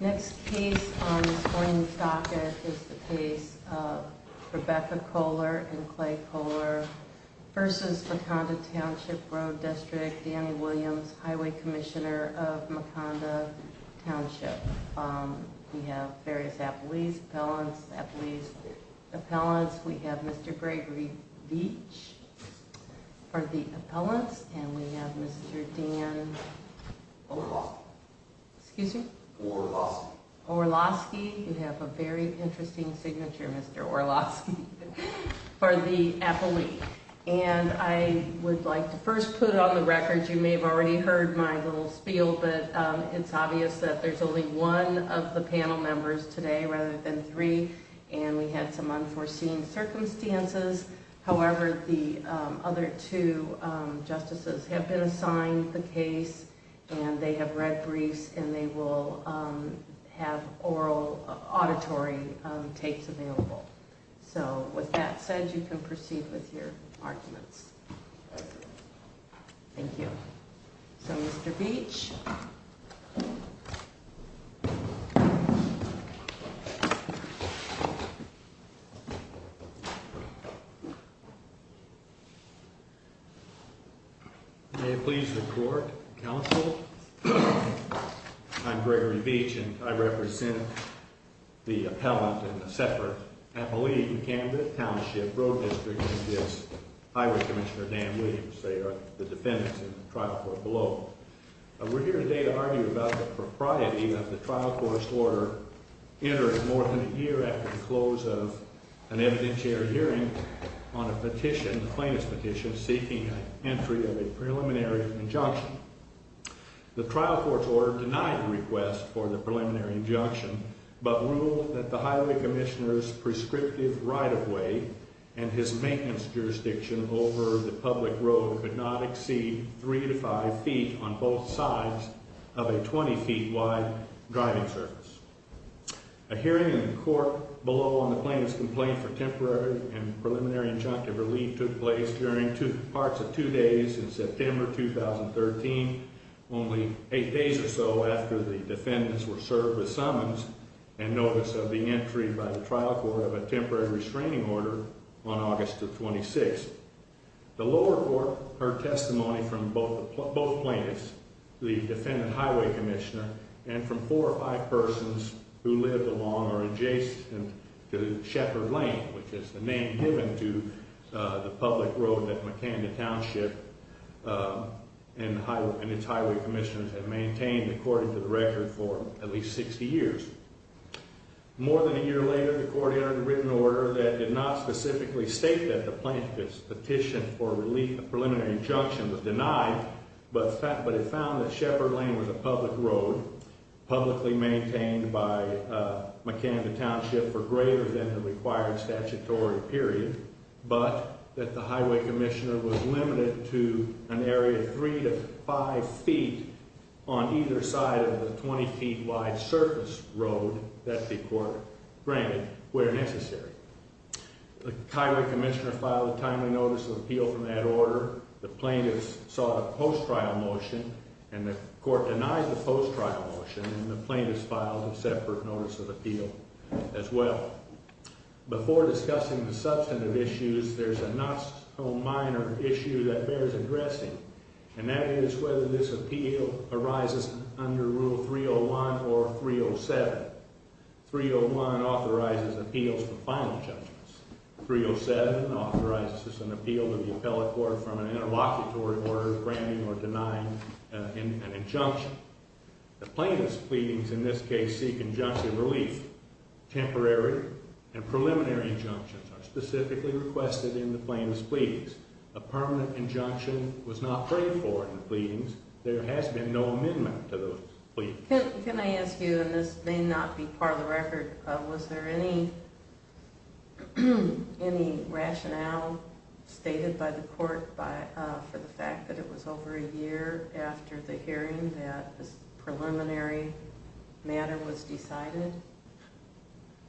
Next case on this morning's docket is the case of Rebecca Kolar and Clay Kolar v. Makanda Township Road District, Danny Williams, Highway Commissioner of Makanda Township. We have various appellees, appellants, appellees, appellants. We have Mr. Gregory Veach for the appellants. And we have Mr. Dan Orlosky. You have a very interesting signature, Mr. Orlosky, for the appellee. And I would like to first put on the record, you may have already heard my little spiel, but it's obvious that there's only one of the panel members today rather than three, and we had some unforeseen circumstances. However, the other two justices have been assigned the case, and they have read briefs, and they will have oral auditory tapes available. So with that said, you can proceed with your arguments. Thank you. So Mr. Veach. May it please the court and counsel, I'm Gregory Veach, and I represent the appellant and the separate appellee in Kanda Township Road District against Highway Commissioner Dan Williams. We're here today to argue about the propriety of the trial court's order entered more than a year after the close of an evidentiary hearing on a petition, a plaintiff's petition, seeking an entry of a preliminary injunction. The trial court's order denied the request for the preliminary injunction, but ruled that the highway commissioner's prescriptive right-of-way and his maintenance jurisdiction over the public road could not exceed three to five feet on both sides of a 20-feet-wide driving surface. A hearing in the court below on the plaintiff's complaint for temporary and preliminary injunctive relief took place during parts of two days in September 2013, only eight days or so after the defendants were served with summons and notice of the entry by the trial court of a temporary restraining order on August the 26th. The lower court heard testimony from both plaintiffs, the defendant highway commissioner, and from four or five persons who lived along or adjacent to Shepherd Lane, which is the name given to the public road that McKenna Township and its highway commissioners had maintained, according to the record, for at least 60 years. More than a year later, the court entered a written order that did not specifically state that the plaintiff's petition for relief of preliminary injunction was denied, but it found that Shepherd Lane was a public road, publicly maintained by McKenna Township for greater than the required statutory period, but that the highway commissioner was limited to an area of three to five feet on either side of the 20-feet-wide surface road that the court granted where necessary. The highway commissioner filed a timely notice of appeal from that order. The plaintiffs sought a post-trial motion, and the court denied the post-trial motion, and the plaintiffs filed a separate notice of appeal as well. Before discussing the substantive issues, there's a not-so-minor issue that bears addressing, and that is whether this appeal arises under Rule 301 or 307. 301 authorizes appeals for final judgments. 307 authorizes an appeal to the appellate court from an interlocutory order granting or denying an injunction. The plaintiff's pleadings in this case seek injunctive relief. Temporary and preliminary injunctions are specifically requested in the plaintiff's pleadings. A permanent injunction was not prayed for in the pleadings. There has been no amendment to those pleadings. Can I ask you, and this may not be part of the record, was there any rationale stated by the court for the fact that it was over a year after the hearing that this preliminary matter was decided?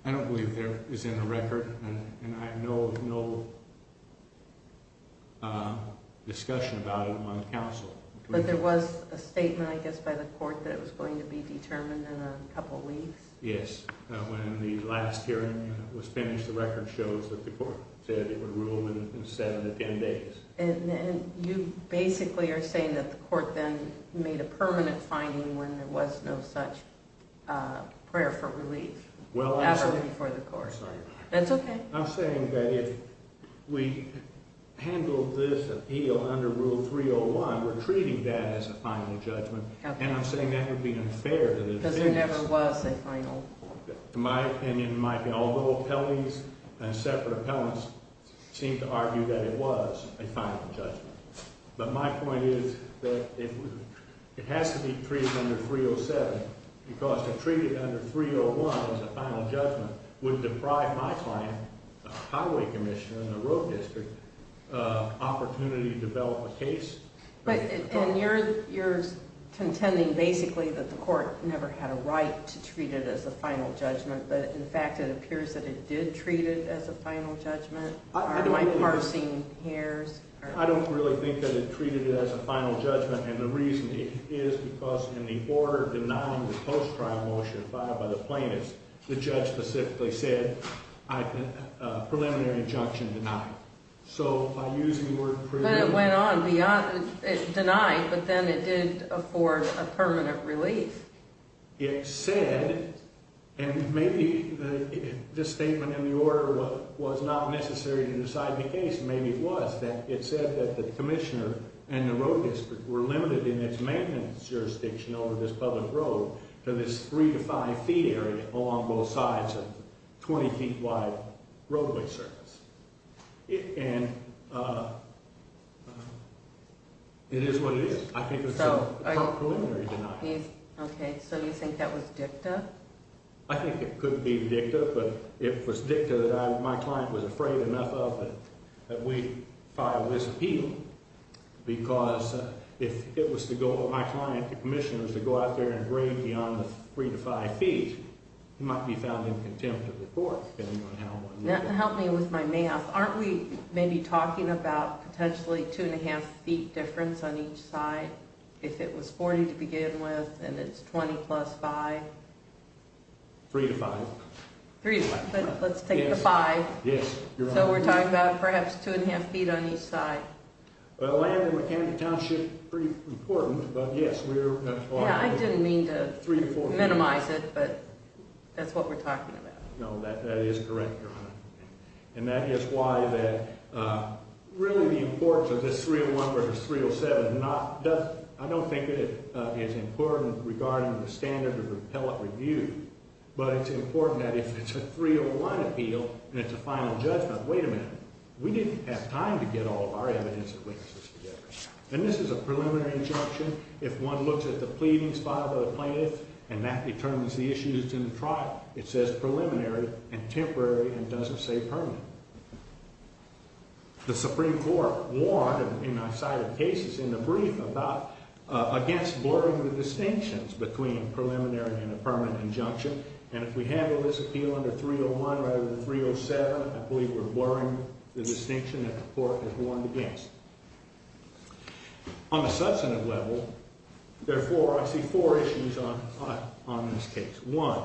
I don't believe there is in the record, and I have no discussion about it on counsel. But there was a statement, I guess, by the court that it was going to be determined in a couple weeks? Yes. When the last hearing was finished, the record shows that the court said it would rule in seven to ten days. And you basically are saying that the court then made a permanent finding when there was no such prayer for relief. Well, I'm sorry. Ever before the court. That's okay. I'm saying that if we handled this appeal under Rule 301, we're treating that as a final judgment. And I'm saying that would be unfair to the defense. Because there never was a final. In my opinion, although appellees and separate appellants seem to argue that it was a final judgment. But my point is that it has to be treated under 307. Because to treat it under 301 as a final judgment would deprive my client, a highway commissioner in a road district, of opportunity to develop a case. And you're contending basically that the court never had a right to treat it as a final judgment. But in fact, it appears that it did treat it as a final judgment. Are my parsing hairs? I don't really think that it treated it as a final judgment. And the reason is because in the order denying the post-trial motion filed by the plaintiffs, the judge specifically said, preliminary injunction denied. So by using the word preliminary. But it went on. It denied, but then it did afford a permanent relief. It said, and maybe this statement in the order was not necessary to decide the case. Maybe it was. It said that the commissioner and the road district were limited in its maintenance jurisdiction over this public road to this three to five feet area along both sides of 20 feet wide roadway surface. And it is what it is. I think it's a preliminary denial. OK. So you think that was dicta? I think it could be dicta. But it was dicta that my client was afraid enough of that we filed this appeal. Because if it was the goal of my client, the commissioners, to go out there and bring beyond the three to five feet, it might be found in contempt of the court, depending on how one would look at it. Help me with my math. Aren't we maybe talking about potentially two and a half feet difference on each side? If it was 40 to begin with, and it's 20 plus five? Three to five. Three to five. But let's take the five. Yes, Your Honor. So we're talking about perhaps two and a half feet on each side. The land and mechanical township, pretty important. But yes, we're going to apply it. Yeah, I didn't mean to minimize it, but that's what we're talking about. No, that is correct, Your Honor. And that is why that really the importance of this 301 versus 307, I don't think it is important regarding the standard of appellate review. But it's important that if it's a 301 appeal and it's a final judgment, wait a minute, we didn't have time to get all of our evidence and witnesses together. And this is a preliminary injunction. If one looks at the pleading spot of the plaintiff and that determines the issues in the trial, it says preliminary and temporary and doesn't say permanent. The Supreme Court warned in my side of cases in the brief about against blurring the distinctions between preliminary and a permanent injunction. And if we handle this appeal under 301 rather than 307, I believe we're blurring the distinction that the court has warned against. On the substantive level, therefore, I see four issues on this case. One,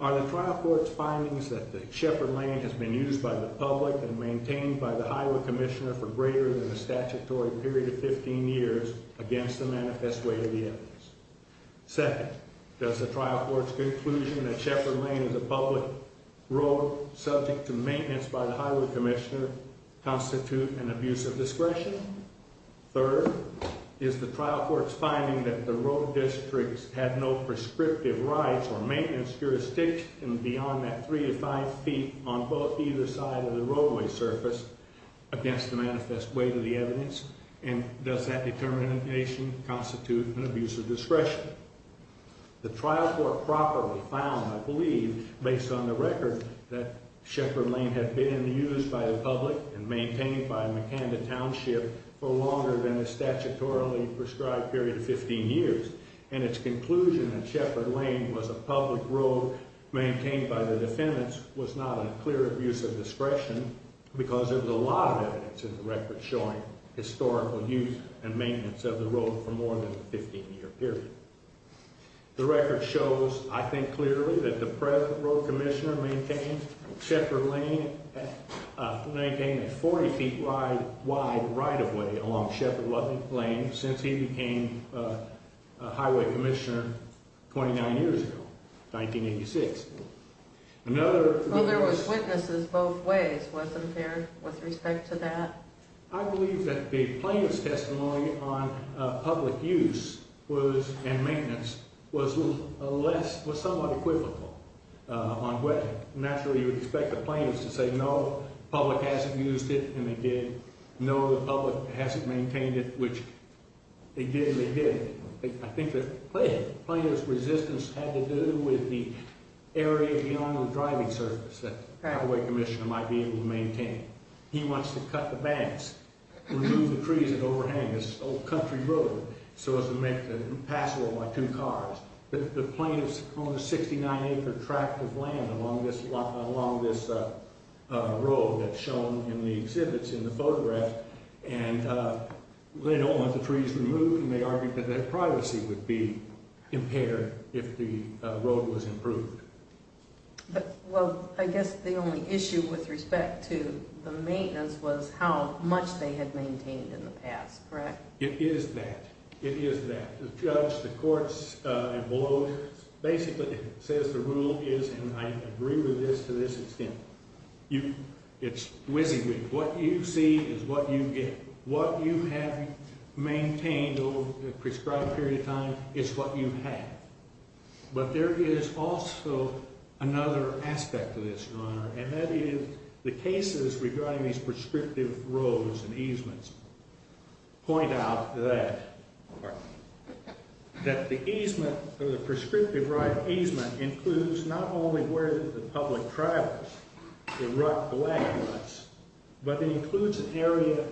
are the trial court's findings that the Sheppard Lane has been used by the public and maintained by the Highway Commissioner for greater than a statutory period of 15 years against the manifest way of the evidence? Second, does the trial court's conclusion that Sheppard Lane is a public road subject to maintenance by the Highway Commissioner constitute an abuse of discretion? Third, is the trial court's finding that the road districts have no prescriptive rights or maintenance jurisdiction beyond that three to five feet on both either side of the roadway surface against the manifest way to the evidence? And does that determination constitute an abuse of discretion? The trial court properly found, I believe, based on the record that Sheppard Lane had been used by the public and maintained by McAnda Township for longer than the statutorily prescribed period of 15 years. And its conclusion that Sheppard Lane was a public road maintained by the defendants was not a clear abuse of discretion because there was a lot of evidence in the record showing historical use and maintenance of the road for more than a 15 year period. The record shows, I think clearly, that the present Road Commissioner maintained Sheppard Lane, maintained a 40 feet wide right of way along Sheppard Lane since he became Highway Commissioner 29 years ago, 1986. Well, there was witnesses both ways, wasn't there, with respect to that? I believe that the plaintiff's testimony on public use and maintenance was somewhat equivocal on wetland. Naturally, you would expect the plaintiff to say, no, public hasn't used it, and they did. No, the public hasn't maintained it, which they did and they didn't. I think the plaintiff's resistance had to do with the area beyond the driving surface that the Highway Commissioner might be able to maintain. He wants to cut the banks, remove the trees that overhang this old country road so as to make the passable by two cars. The plaintiff's owned a 69 acre tract of land along this road that's shown in the exhibits in the photograph. And they don't want the trees removed, and they argued that their privacy would be impaired if the road was improved. Well, I guess the only issue with respect to the maintenance was how much they had maintained in the past, correct? It is that. It is that. The judge, the courts, and lawyers basically says the rule is, and I agree with this to this extent, it's WYSIWYG. What you see is what you get. What you have maintained over a prescribed period of time is what you have. But there is also another aspect to this, Your Honor, and that is the cases regarding these prescriptive roads and easements point out that. Pardon? That the easement, or the prescriptive easement, includes not only where the public travels, the rut, the lagging ruts, but it includes an area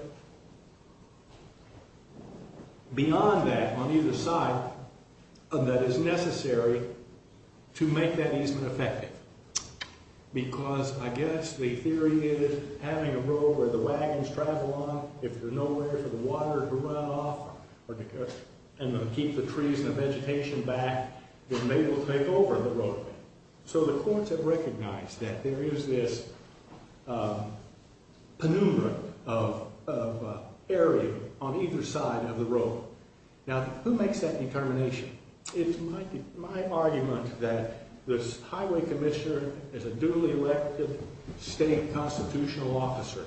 beyond that on either side that is necessary to make that easement effective. Because, I guess, the theory is having a road where the wagons travel on, if there's nowhere for the water to run off, and to keep the trees and the vegetation back, then they will take over the roadway. So the courts have recognized that there is this penumbra of area on either side of the road. Now, who makes that determination? It's my argument that this highway commissioner is a duly elected state constitutional officer,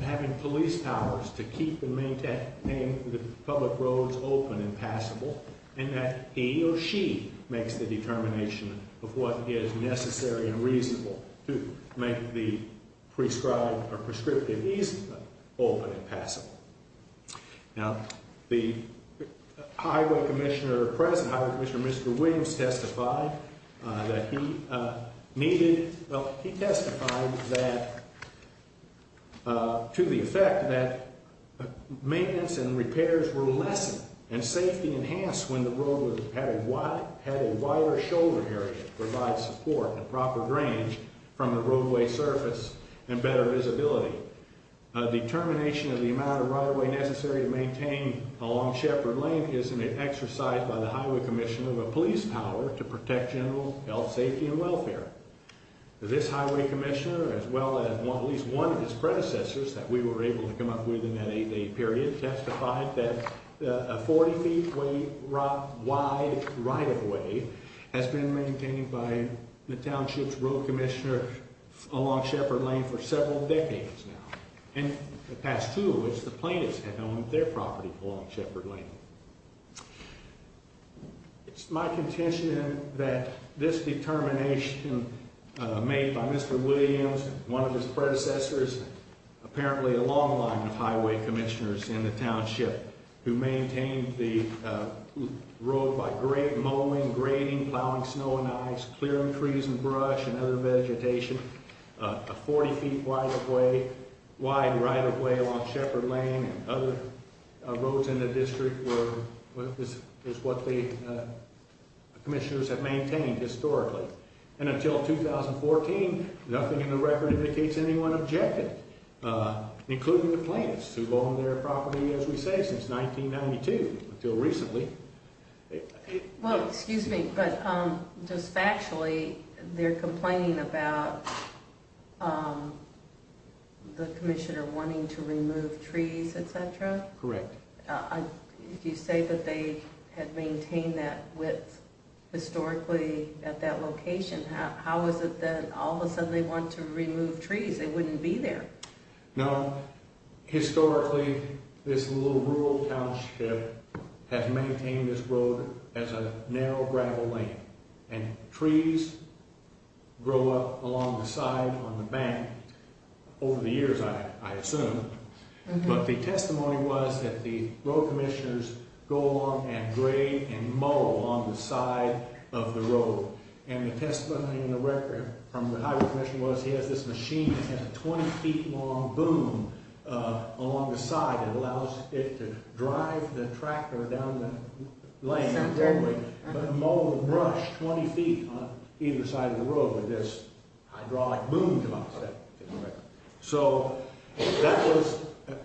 having police powers to keep and maintain the public roads open and passable, and that he or she makes the determination of what is necessary and reasonable to make the prescribed or prescriptive easement open and passable. Now, the highway commissioner at present, Highway Commissioner Mr. Williams, testified that he needed, well, he testified that, to the effect that maintenance and repairs were lessened, and safety enhanced when the road had a wider shoulder area to provide support and a proper range from the roadway surface and better visibility. A determination of the amount of right-of-way necessary to maintain a long shepherd lane is an exercise by the highway commissioner of a police power to protect general health, safety, and welfare. This highway commissioner, as well as at least one of his predecessors that we were able to come up with in that eight-day period, testified that a 40-feet-wide right-of-way has been maintained by the township's road commissioner along Shepherd Lane for several decades now. And the past two in which the plaintiffs had owned their property along Shepherd Lane. It's my contention that this determination made by Mr. Williams, one of his predecessors, apparently a long line of highway commissioners in the township who maintained the road by mowing, grading, plowing snow and ice, clearing trees and brush and other vegetation, a 40-feet-wide right-of-way along Shepherd Lane and other roads in the district is what the commissioners have maintained historically. And until 2014, nothing in the record indicates anyone objected, including the plaintiffs who've owned their property, as we say, since 1992 until recently. Well, excuse me, but just factually, they're complaining about the commissioner wanting to remove trees, etc.? Correct. You say that they had maintained that width historically at that location. How is it that all of a sudden they want to remove trees? They wouldn't be there. Now, historically, this little rural township has maintained this road as a narrow gravel lane. And trees grow up along the side, on the bank, over the years, I assume. But the testimony was that the road commissioners go along and grade and mow along the side of the road. And the testimony in the record from the highway commission was he has this machine that has a 20-feet-long boom along the side that allows it to drive the tractor down the lane, but mow and brush 20 feet on either side of the road with this hydraulic boom. So that was an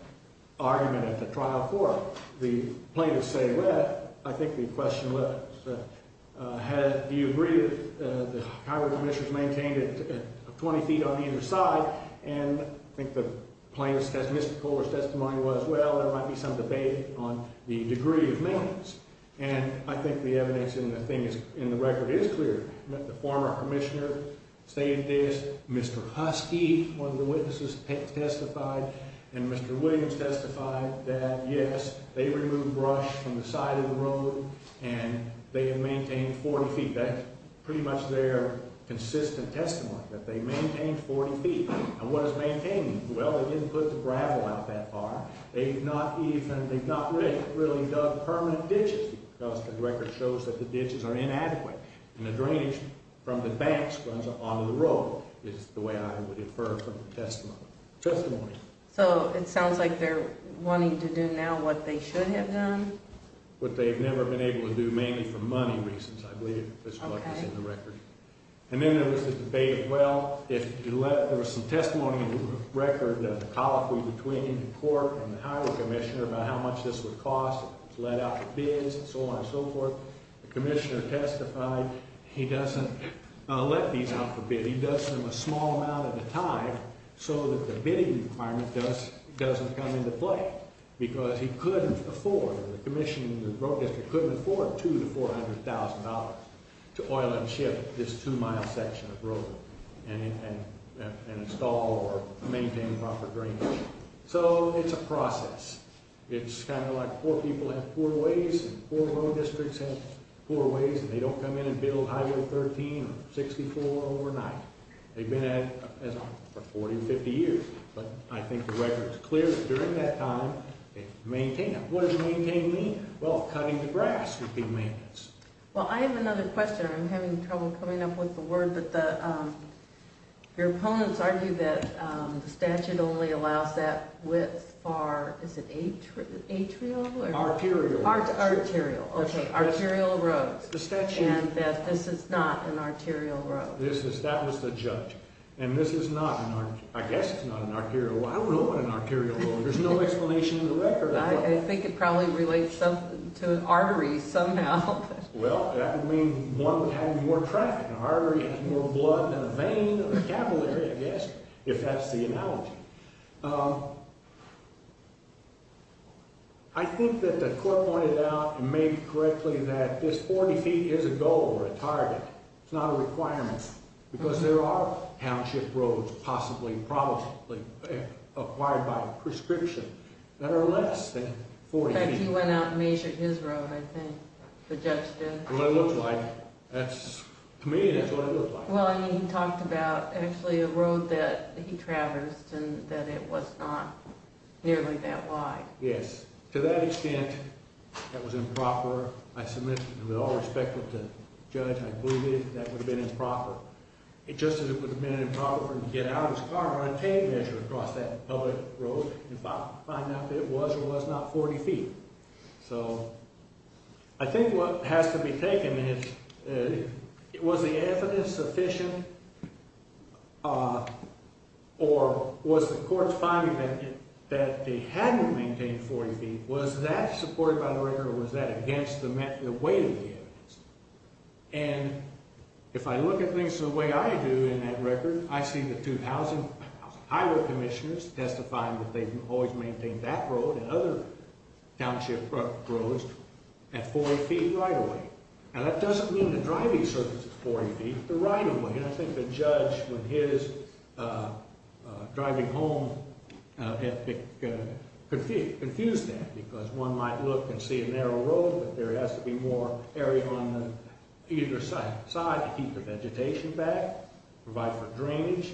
argument at the trial floor. The plaintiffs say, well, I think the question was, do you agree that the highway commissioners maintained it 20 feet on either side? And I think the plaintiff's testimony was, well, there might be some debate on the degree of maintenance. And I think the evidence in the record is clear. The former commissioner stated this. Mr. Husky, one of the witnesses, testified. And Mr. Williams testified that, yes, they removed brush from the side of the road, and they have maintained 40 feet. That's pretty much their consistent testimony, that they maintained 40 feet. And what does maintain mean? Well, they didn't put the gravel out that far. They've not really dug permanent ditches because the record shows that the ditches are inadequate. And the drainage from the banks runs onto the road is the way I would infer from the testimony. So it sounds like they're wanting to do now what they should have done? What they've never been able to do, mainly for money reasons, I believe, is what was in the record. And then there was the debate, well, if you let, there was some testimony in the record, the colloquy between the court and the highway commissioner about how much this would cost if it was let out for bids and so on and so forth. The commissioner testified he doesn't let these out for bid. He does them a small amount at a time so that the bidding requirement doesn't come into play because he couldn't afford, or the commissioner in the road district couldn't afford $200,000 to $400,000 to oil and ship this two-mile section of road and install or maintain proper drainage. So it's a process. It's kind of like poor people have poor ways and poor road districts have poor ways, and they don't come in and build Highway 13 or 64 overnight. They've been at it for 40 or 50 years. But I think the record is clear that during that time, they maintained it. What does maintain mean? Well, cutting the grass would be maintenance. Well, I have another question. I'm having trouble coming up with the word, but your opponents argue that the statute only allows that width for, is it atrial? Arterial. Arterial. Okay, arterial roads. The statute. And that this is not an arterial road. That was the judge. And this is not, I guess it's not an arterial road. I don't know what an arterial road is. There's no explanation in the record. I think it probably relates to an artery somehow. Well, that would mean one would have more traffic. An artery has more blood than a vein or a capillary, I guess, if that's the analogy. I think that the court pointed out and made correctly that this 40 feet is a goal or a target. It's not a requirement. Because there are township roads possibly, probably acquired by prescription that are less than 40 feet. In fact, he went out and measured his road, I think, the judge did. Well, it looks like. To me, that's what it looks like. Well, he talked about actually a road that he traversed and that it was not nearly that wide. Yes. To that extent, that was improper. I submit with all respect to the judge, I believe that that would have been improper. Just as it would have been improper for him to get out of his car and take a measure across that public road and find out that it was or was not 40 feet. So I think what has to be taken is, was the evidence sufficient? Or was the court's finding that they hadn't maintained 40 feet, was that supported by the record And if I look at things the way I do in that record, I see the 2,000 highway commissioners testifying that they've always maintained that road and other township roads at 40 feet right of way. And that doesn't mean the driving surface is 40 feet, the right of way. And I think the judge, with his driving home, confused that. Because one might look and see a narrow road, but there has to be more area on either side to keep the vegetation back, provide for drainage,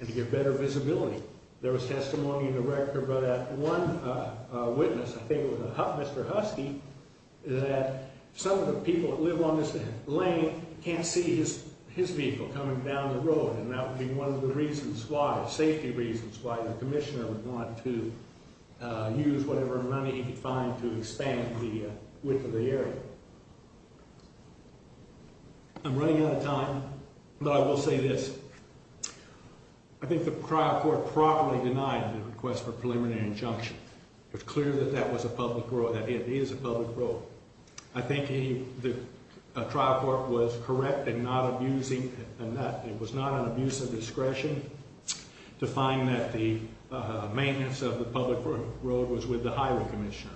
and to give better visibility. There was testimony in the record about that one witness, I think it was Mr. Husky, that some of the people that live on this lane can't see his vehicle coming down the road. And that would be one of the reasons why, safety reasons, why the commissioner would want to use whatever money he could find to expand the width of the area. I'm running out of time, but I will say this. I think the trial court properly denied the request for preliminary injunction. It was clear that that was a public road, that it is a public road. I think the trial court was correct in not abusing, it was not an abuse of discretion to find that the maintenance of the public road was with the highway commissioner.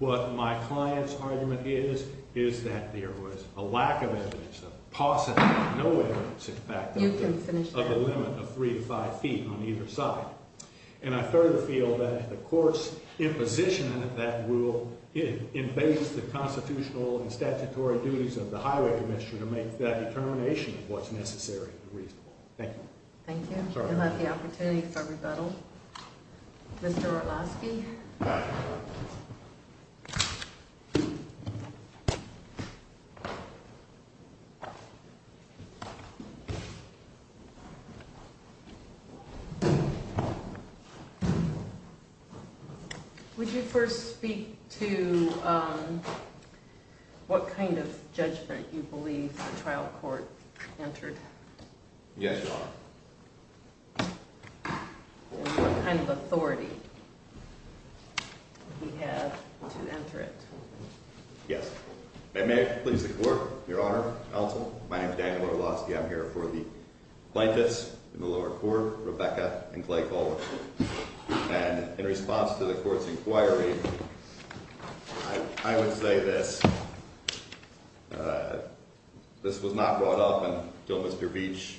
What my client's argument is, is that there was a lack of evidence, a paucity of no evidence, in fact, of the limit of three to five feet on either side. And I further feel that the court's imposition of that rule invades the constitutional and statutory duties of the highway commissioner to make that determination of what's necessary and reasonable. Thank you. Thank you. I'd like the opportunity for rebuttal. Mr. Orlowski. Thank you. Would you first speak to what kind of judgment you believe the trial court entered? Yes, Your Honor. What kind of authority do you have to enter it? Yes. May it please the court, Your Honor, counsel. My name is Daniel Orlowski. I'm here for the plaintiffs in the lower court, Rebecca and Clay Colvin. And in response to the court's inquiry, I would say this. This was not brought up until Mr. Beach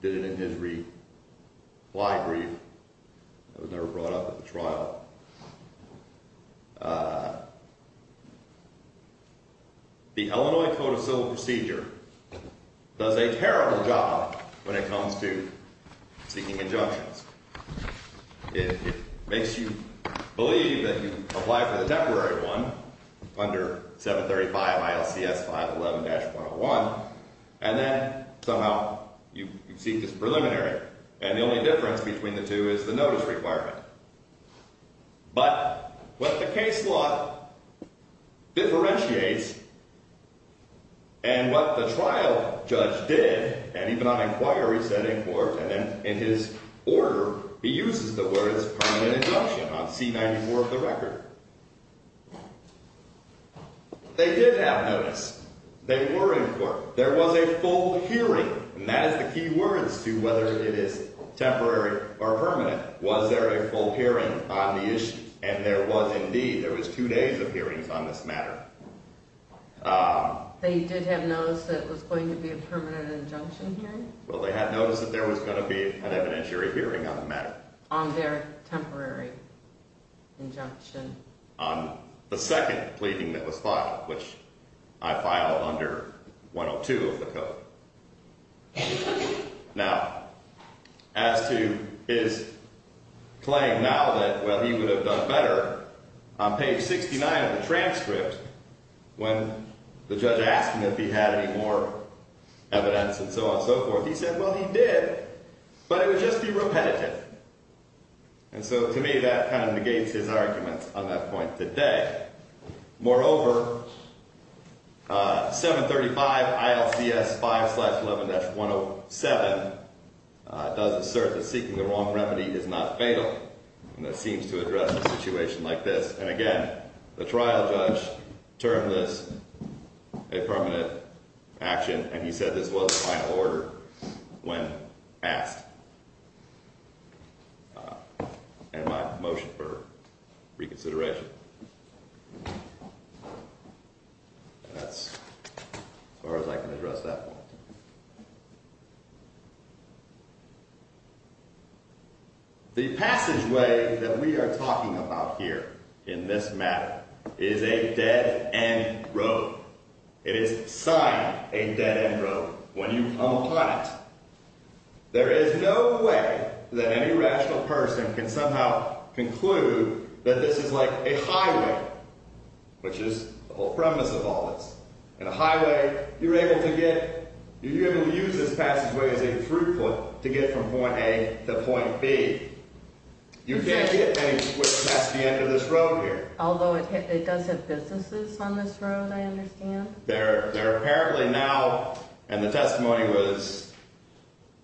did it in his reply brief. It was never brought up at the trial. The Illinois Code of Civil Procedure does a terrible job when it comes to seeking injunctions. It makes you believe that you apply for the temporary one under 735 ILCS 511-101, and then somehow you seek this preliminary. And the only difference between the two is the notice requirement. But what the case law differentiates and what the trial judge did, and even on inquiry, said in court, and then in his order, he uses the words permanent injunction on C-94 of the record. They did have notice. They were in court. There was a full hearing, and that is the key words to whether it is temporary or permanent. Was there a full hearing on the issue? And there was indeed. There was two days of hearings on this matter. They did have notice that it was going to be a permanent injunction hearing? Well, they had notice that there was going to be an evidentiary hearing on the matter. On their temporary injunction? On the second pleading that was filed, which I filed under 102 of the code. Now, as to his claim now that, well, he would have done better, on page 69 of the transcript, when the judge asked him if he had any more evidence and so on and so forth, he said, well, he did, but it would just be repetitive. And so to me, that kind of negates his arguments on that point today. Moreover, 735 ILCS 5-11-107 does assert that seeking the wrong remedy is not fatal, and that seems to address a situation like this. And again, the trial judge termed this a permanent action, and he said this was a final order when asked. And my motion for reconsideration. That's as far as I can address that point. The passageway that we are talking about here in this matter is a dead-end road. It is signed a dead-end road when you come upon it. There is no way that any rational person can somehow conclude that this is like a highway, which is the whole premise of all this. In a highway, you're able to use this passageway as a throughput to get from point A to point B. You can't get anywhere past the end of this road here. Although it does have businesses on this road, I understand. There apparently now, and the testimony was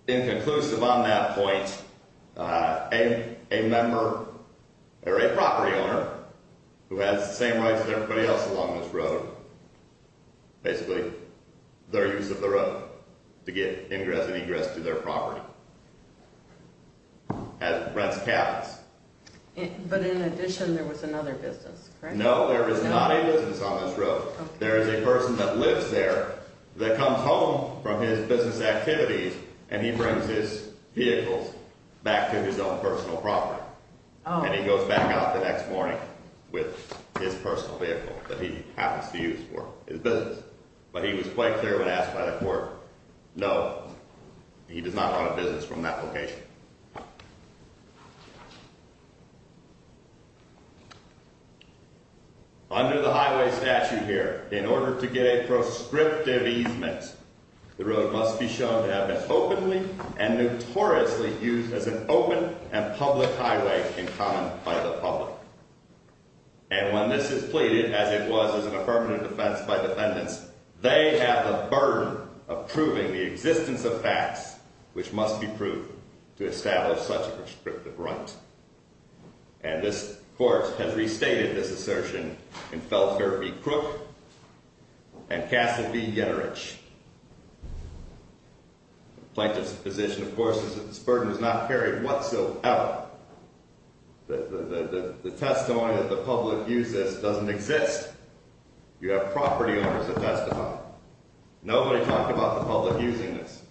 inconclusive on that point, a member or a property owner who has the same rights as everybody else along this road, basically, their use of the road to get ingress and egress to their property, rents cabins. But in addition, there was another business, correct? No, there is not a business on this road. There is a person that lives there that comes home from his business activities, and he brings his vehicles back to his own personal property. And he goes back out the next morning with his personal vehicle that he happens to use for his business. But he was quite clear when asked by the court, no, he does not own a business from that location. Under the highway statute here, in order to get a prescriptive easement, the road must be shown to have been openly and notoriously used as an open and public highway in common by the public. And when this is pleaded, as it was in a permanent defense by defendants, they have the burden of proving the existence of facts which must be proved to establish such a prescriptive right. And this court has restated this assertion in Feldherr v. Crook and Castle v. Yenorich. Plaintiff's position, of course, is that this burden is not carried whatsoever. The testimony that the public uses doesn't exist. You have property owners that testify. Nobody talked about the public using this.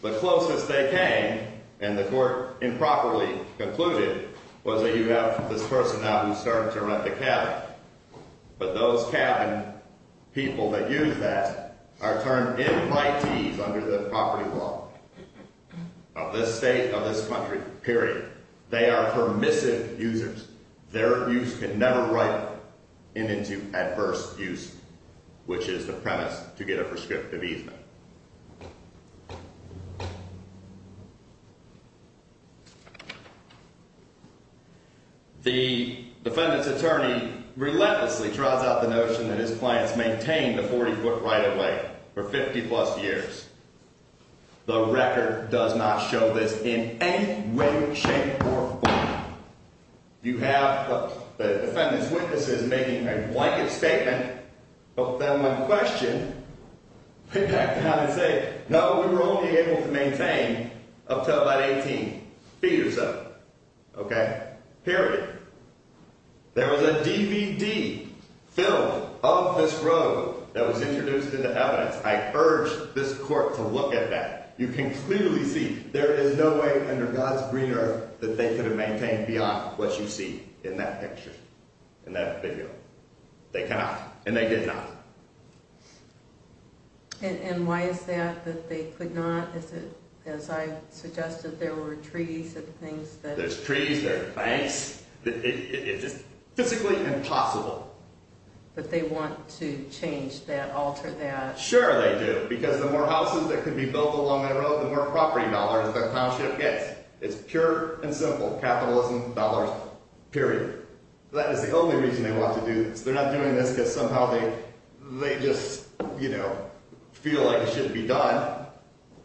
The closest they came, and the court improperly concluded, was that you have this person now who's starting to rent the cabin. But those cabin people that use that are turned in by fees under the property law of this state, of this country, period. They are permissive users. Their use can never ripen into adverse use, which is the premise to get a prescriptive easement. The defendant's attorney relentlessly draws out the notion that his clients maintained a 40-foot right-of-way for 50-plus years. The record does not show this in any way, shape, or form. You have the defendant's witnesses making a blanket statement, but then when questioned, they back down and say, no, we were only able to maintain up to about 18 feet or so, okay, period. There was a DVD filmed of this road that was introduced into evidence. I urge this court to look at that. You can clearly see there is no way under God's green earth that they could have maintained beyond what you see in that picture, in that video. They cannot, and they did not. And why is that that they could not? Is it, as I suggested, there were trees and things? There's trees, there's banks. It's just physically impossible. But they want to change that, alter that. Sure they do, because the more houses that can be built along that road, the more property dollars the township gets. It's pure and simple, capitalism, dollars, period. That is the only reason they want to do this. They're not doing this because somehow they just, you know, feel like it shouldn't be done.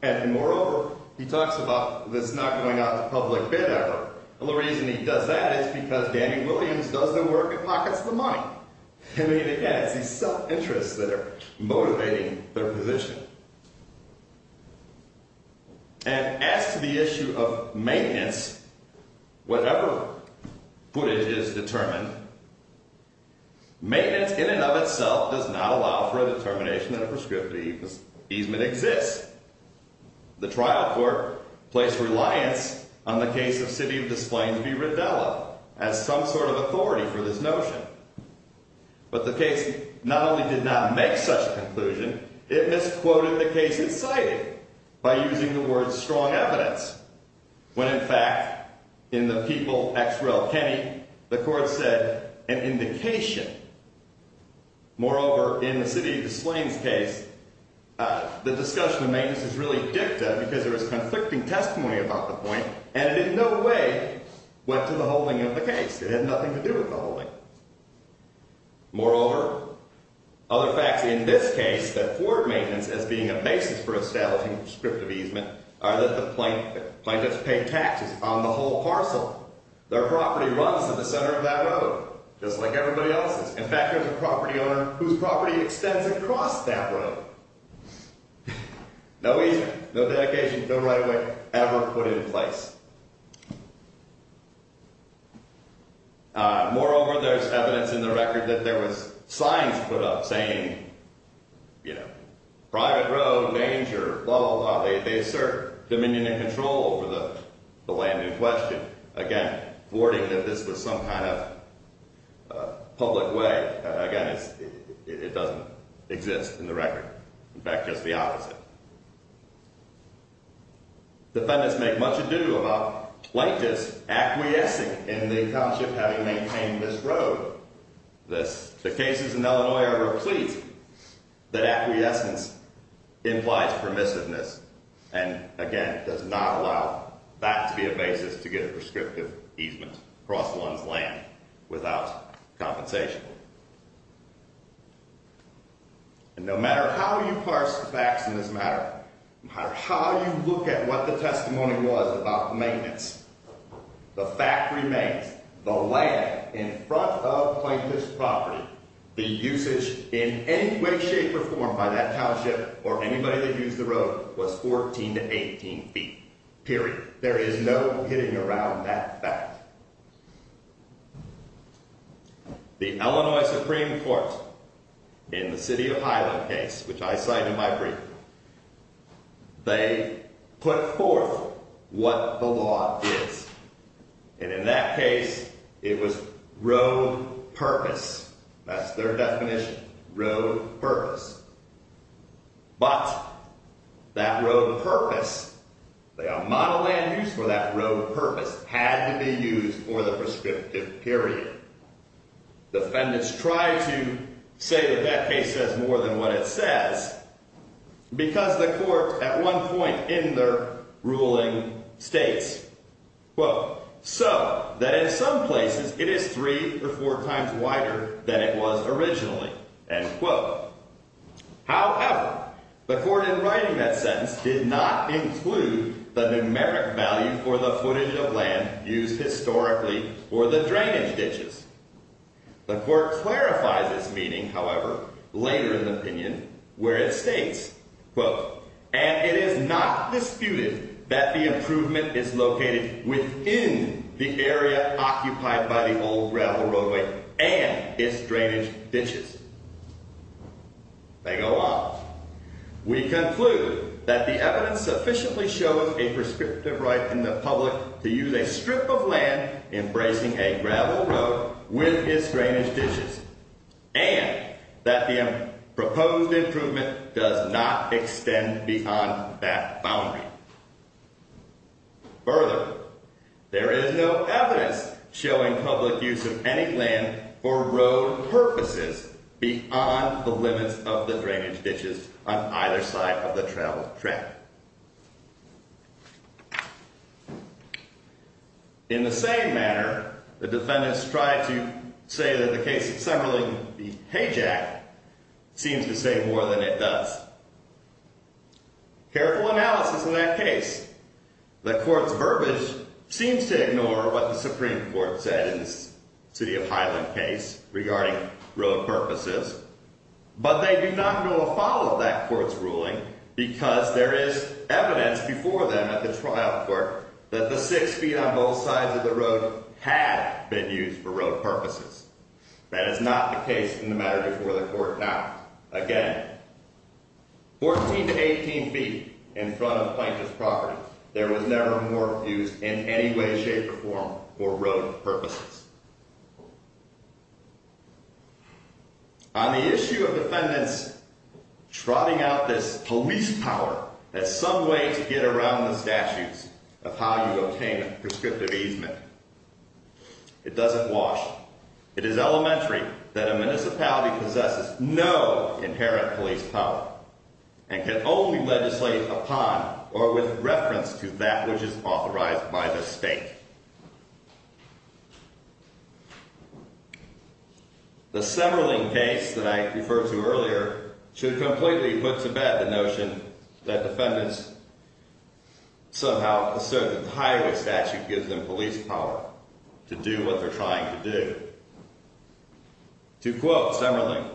And moreover, he talks about this not going out to public bid ever. And the reason he does that is because Danny Williams doesn't work in pockets of the money. I mean, again, it's these self-interests that are motivating their position. And as to the issue of maintenance, whatever footage is determined, maintenance in and of itself does not allow for a determination that a prescriptive easement exists. The trial court placed reliance on the case of City of Des Plaines v. Rivella as some sort of authority for this notion. But the case not only did not make such a conclusion, it misquoted the case it cited by using the words strong evidence. When, in fact, in the people ex rel Kenny, the court said an indication. Moreover, in the City of Des Plaines case, the discussion of maintenance is really dicta because there is conflicting testimony about the point. And it in no way went to the holding of the case. It had nothing to do with the holding. Moreover, other facts in this case that afford maintenance as being a basis for establishing prescriptive easement are that the plaintiffs pay taxes on the whole parcel. Their property runs to the center of that road, just like everybody else's. In fact, there's a property owner whose property extends across that road. No easement, no dedication, no right of way ever put in place. Moreover, there's evidence in the record that there was signs put up saying, you know, private road, danger, blah, blah, blah. They assert dominion and control over the land in question. Again, thwarting that this was some kind of public way. Again, it doesn't exist in the record. In fact, just the opposite. Defendants make much ado about plaintiffs acquiescing in the account of having maintained this road. The cases in Illinois are replete that acquiescence implies permissiveness. And again, does not allow that to be a basis to get a prescriptive easement across one's land without compensation. And no matter how you parse the facts in this matter, no matter how you look at what the testimony was about maintenance, the fact remains. The land in front of plaintiff's property, the usage in any way, shape, or form by that township or anybody that used the road was 14 to 18 feet. Period. There is no getting around that fact. The Illinois Supreme Court in the City of Highland case, which I cite in my brief, they put forth what the law is. And in that case, it was road purpose. That's their definition, road purpose. But that road purpose, the amount of land used for that road purpose had to be used for the prescriptive period. Defendants try to say that that case says more than what it says. Because the court at one point in their ruling states, quote, so that in some places it is three or four times wider than it was originally. And, quote, however, the court in writing that sentence did not include the numeric value for the footage of land used historically or the drainage ditches. The court clarifies this meaning, however, later in the opinion where it states, quote, and it is not disputed that the improvement is located within the area occupied by the old gravel roadway and its drainage ditches. They go on. We conclude that the evidence sufficiently shows a prescriptive right in the public to use a strip of land embracing a gravel road with its drainage ditches and that the proposed improvement does not extend beyond that boundary. Further, there is no evidence showing public use of any land for road purposes beyond the limits of the drainage ditches on either side of the travel track. In the same manner, the defendants try to say that the case of Semberling be hajacked seems to say more than it does. Careful analysis in that case. The court's verbiage seems to ignore what the Supreme Court said in the City of Highland case regarding road purposes. But they do not know a follow of that court's ruling because there is evidence before them at the trial court that the six feet on both sides of the road had been used for road purposes. That is not the case in the matter before the court now. Again, 14 to 18 feet in front of Plaintiff's property, there was never more used in any way, shape, or form for road purposes. On the issue of defendants trotting out this police power, there's some way to get around the statutes of how you obtain a prescriptive easement. It doesn't wash. It is elementary that a municipality possesses no inherent police power and can only legislate upon or with reference to that which is authorized by the state. The Semberling case that I referred to earlier should completely put to bed the notion that defendants somehow assert that the highway statute gives them police power to do what they're trying to do. To quote Semberling,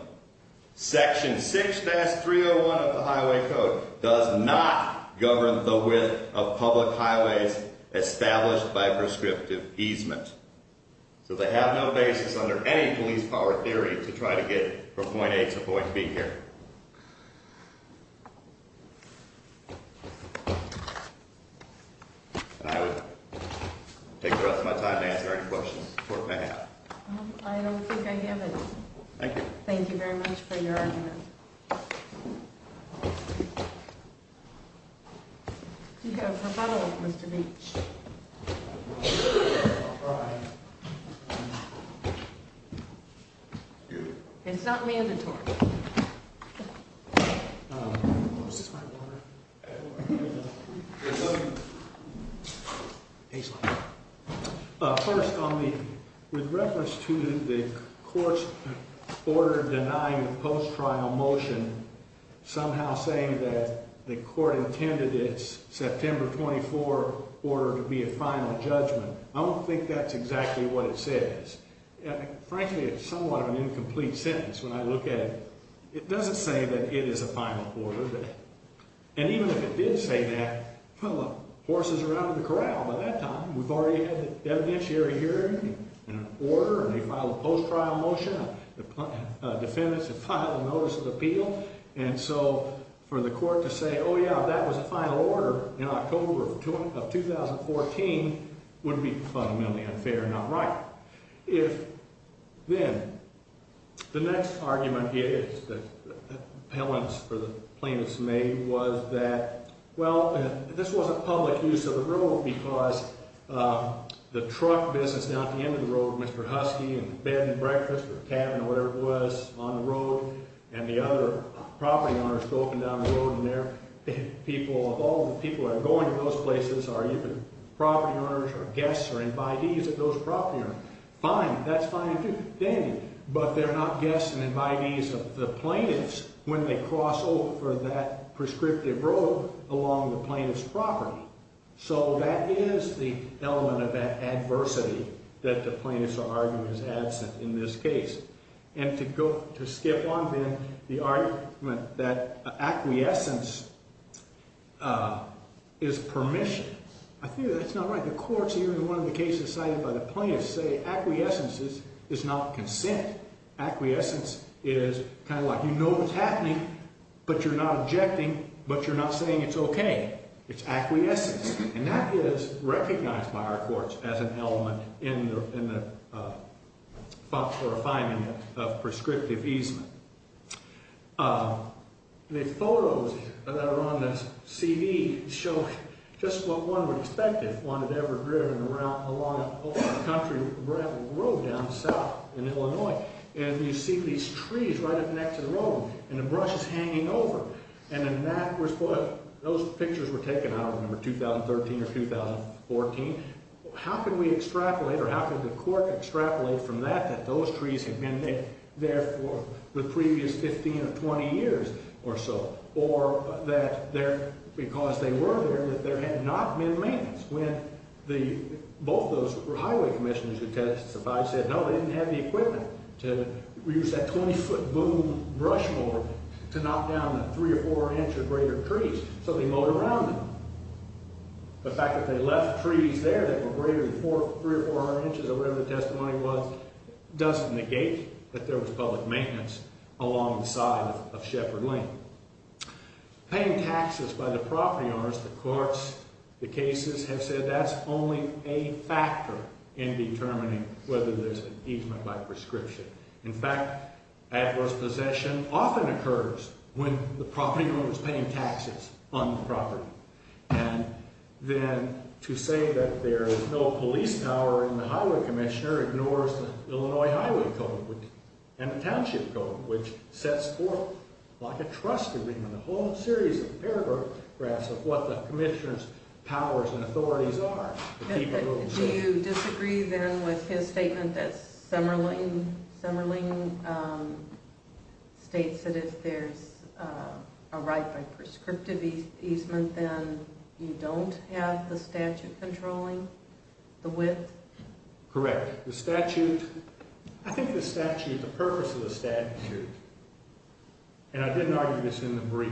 Section 6-301 of the Highway Code does not govern the width of public highways established by prescriptive easement. So they have no basis under any police power theory to try to get from point A to point B here. I will take the rest of my time to answer any questions the court may have. I don't think I have any. Thank you. Thank you very much for your argument. You have rebuttal, Mr. Beach. It's not mandatory. First, with reference to the court's order denying the post-trial motion somehow saying that the court intended its September 24 order to be a final judgment, I don't think that's exactly what it says. Frankly, it's somewhat of an incomplete sentence when I look at it. It doesn't say that it is a final order. And even if it did say that, well, horses are out of the corral by that time. We've already had the evidentiary hearing and an order, and they filed a post-trial motion. The defendants have filed a notice of appeal. And so for the court to say, oh, yeah, that was a final order in October of 2014 would be fundamentally unfair and not right. If then the next argument is that the appellants for the plaintiffs made was that, well, this was a public use of the road because the truck business down at the end of the road, Mr. Husky, and the bed and breakfast or cabin or whatever it was on the road, and the other property owners go up and down the road, and all the people that are going to those places are even property owners or guests or invitees of those property owners. Fine. That's fine and dandy. But they're not guests and invitees of the plaintiffs when they cross over that prescriptive road along the plaintiff's property. So that is the element of adversity that the plaintiffs are arguing is absent in this case. And to skip on, then, the argument that acquiescence is permission. I figure that's not right. The courts, even in one of the cases cited by the plaintiffs, say acquiescence is not consent. Acquiescence is kind of like you know what's happening, but you're not objecting, but you're not saying it's OK. It's acquiescence. And that is recognized by our courts as an element in the functional refinement of prescriptive easement. The photos that are on the CV show just what one would expect if one had ever driven along a country road down south in Illinois. And you see these trees right up next to the road, and the brushes hanging over. And those pictures were taken, I don't remember, 2013 or 2014. How can we extrapolate, or how can the court extrapolate from that that those trees have been there for the previous 15 or 20 years or so? Or that because they were there, that there had not been maintenance when both those highway commissioners who testified said, no, they didn't have the equipment to use that 20-foot boom brush mower to knock down the three or four inch or greater trees. So they mowed around them. The fact that they left trees there that were greater than three or four inches or whatever the testimony was, doesn't negate that there was public maintenance along the side of Sheppard Lane. Paying taxes by the property owners, the courts, the cases have said that's only a factor in determining whether there's an easement by prescription. In fact, adverse possession often occurs when the property owner is paying taxes on the property. And then to say that there is no police power in the highway commissioner ignores the Illinois Highway Code and the Township Code, which sets forth like a trust agreement a whole series of paragraphs of what the commissioner's powers and authorities are. Do you disagree then with his statement that Summerling states that if there's a right by prescriptive easement, then you don't have the statute controlling the width? Correct. The statute, I think the purpose of the statute, and I didn't argue this in the brief,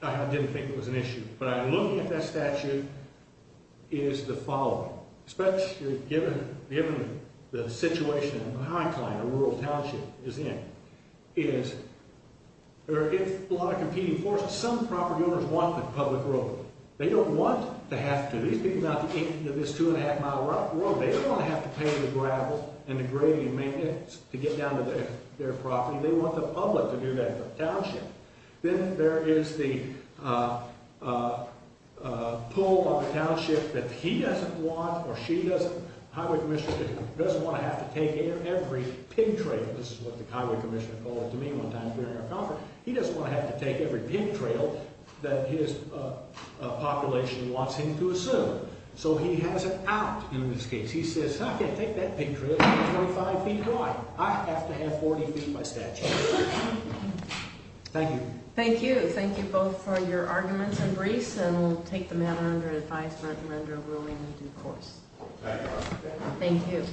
I didn't think it was an issue. But I'm looking at that statute, it is the following. Especially given the situation in the high climb a rural township is in. There is a lot of competing forces. Some property owners want the public road. They don't want to have to. These people are out in this two and a half mile road. They don't want to have to pay the gravel and the grading maintenance to get down to their property. They want the public to do that for the township. Then there is the pull of the township that he doesn't want or she doesn't. The highway commissioner doesn't want to have to take every pin trail. This is what the highway commissioner called it to me one time during our conference. He doesn't want to have to take every pin trail that his population wants him to assume. So he has it out in this case. He says, I can't take that pin trail. It's 25 feet wide. I have to have 40 feet by statute. Thank you. Thank you. Thank you both for your arguments and briefs. And we'll take the matter under advisement and under a ruling in due course. Thank you.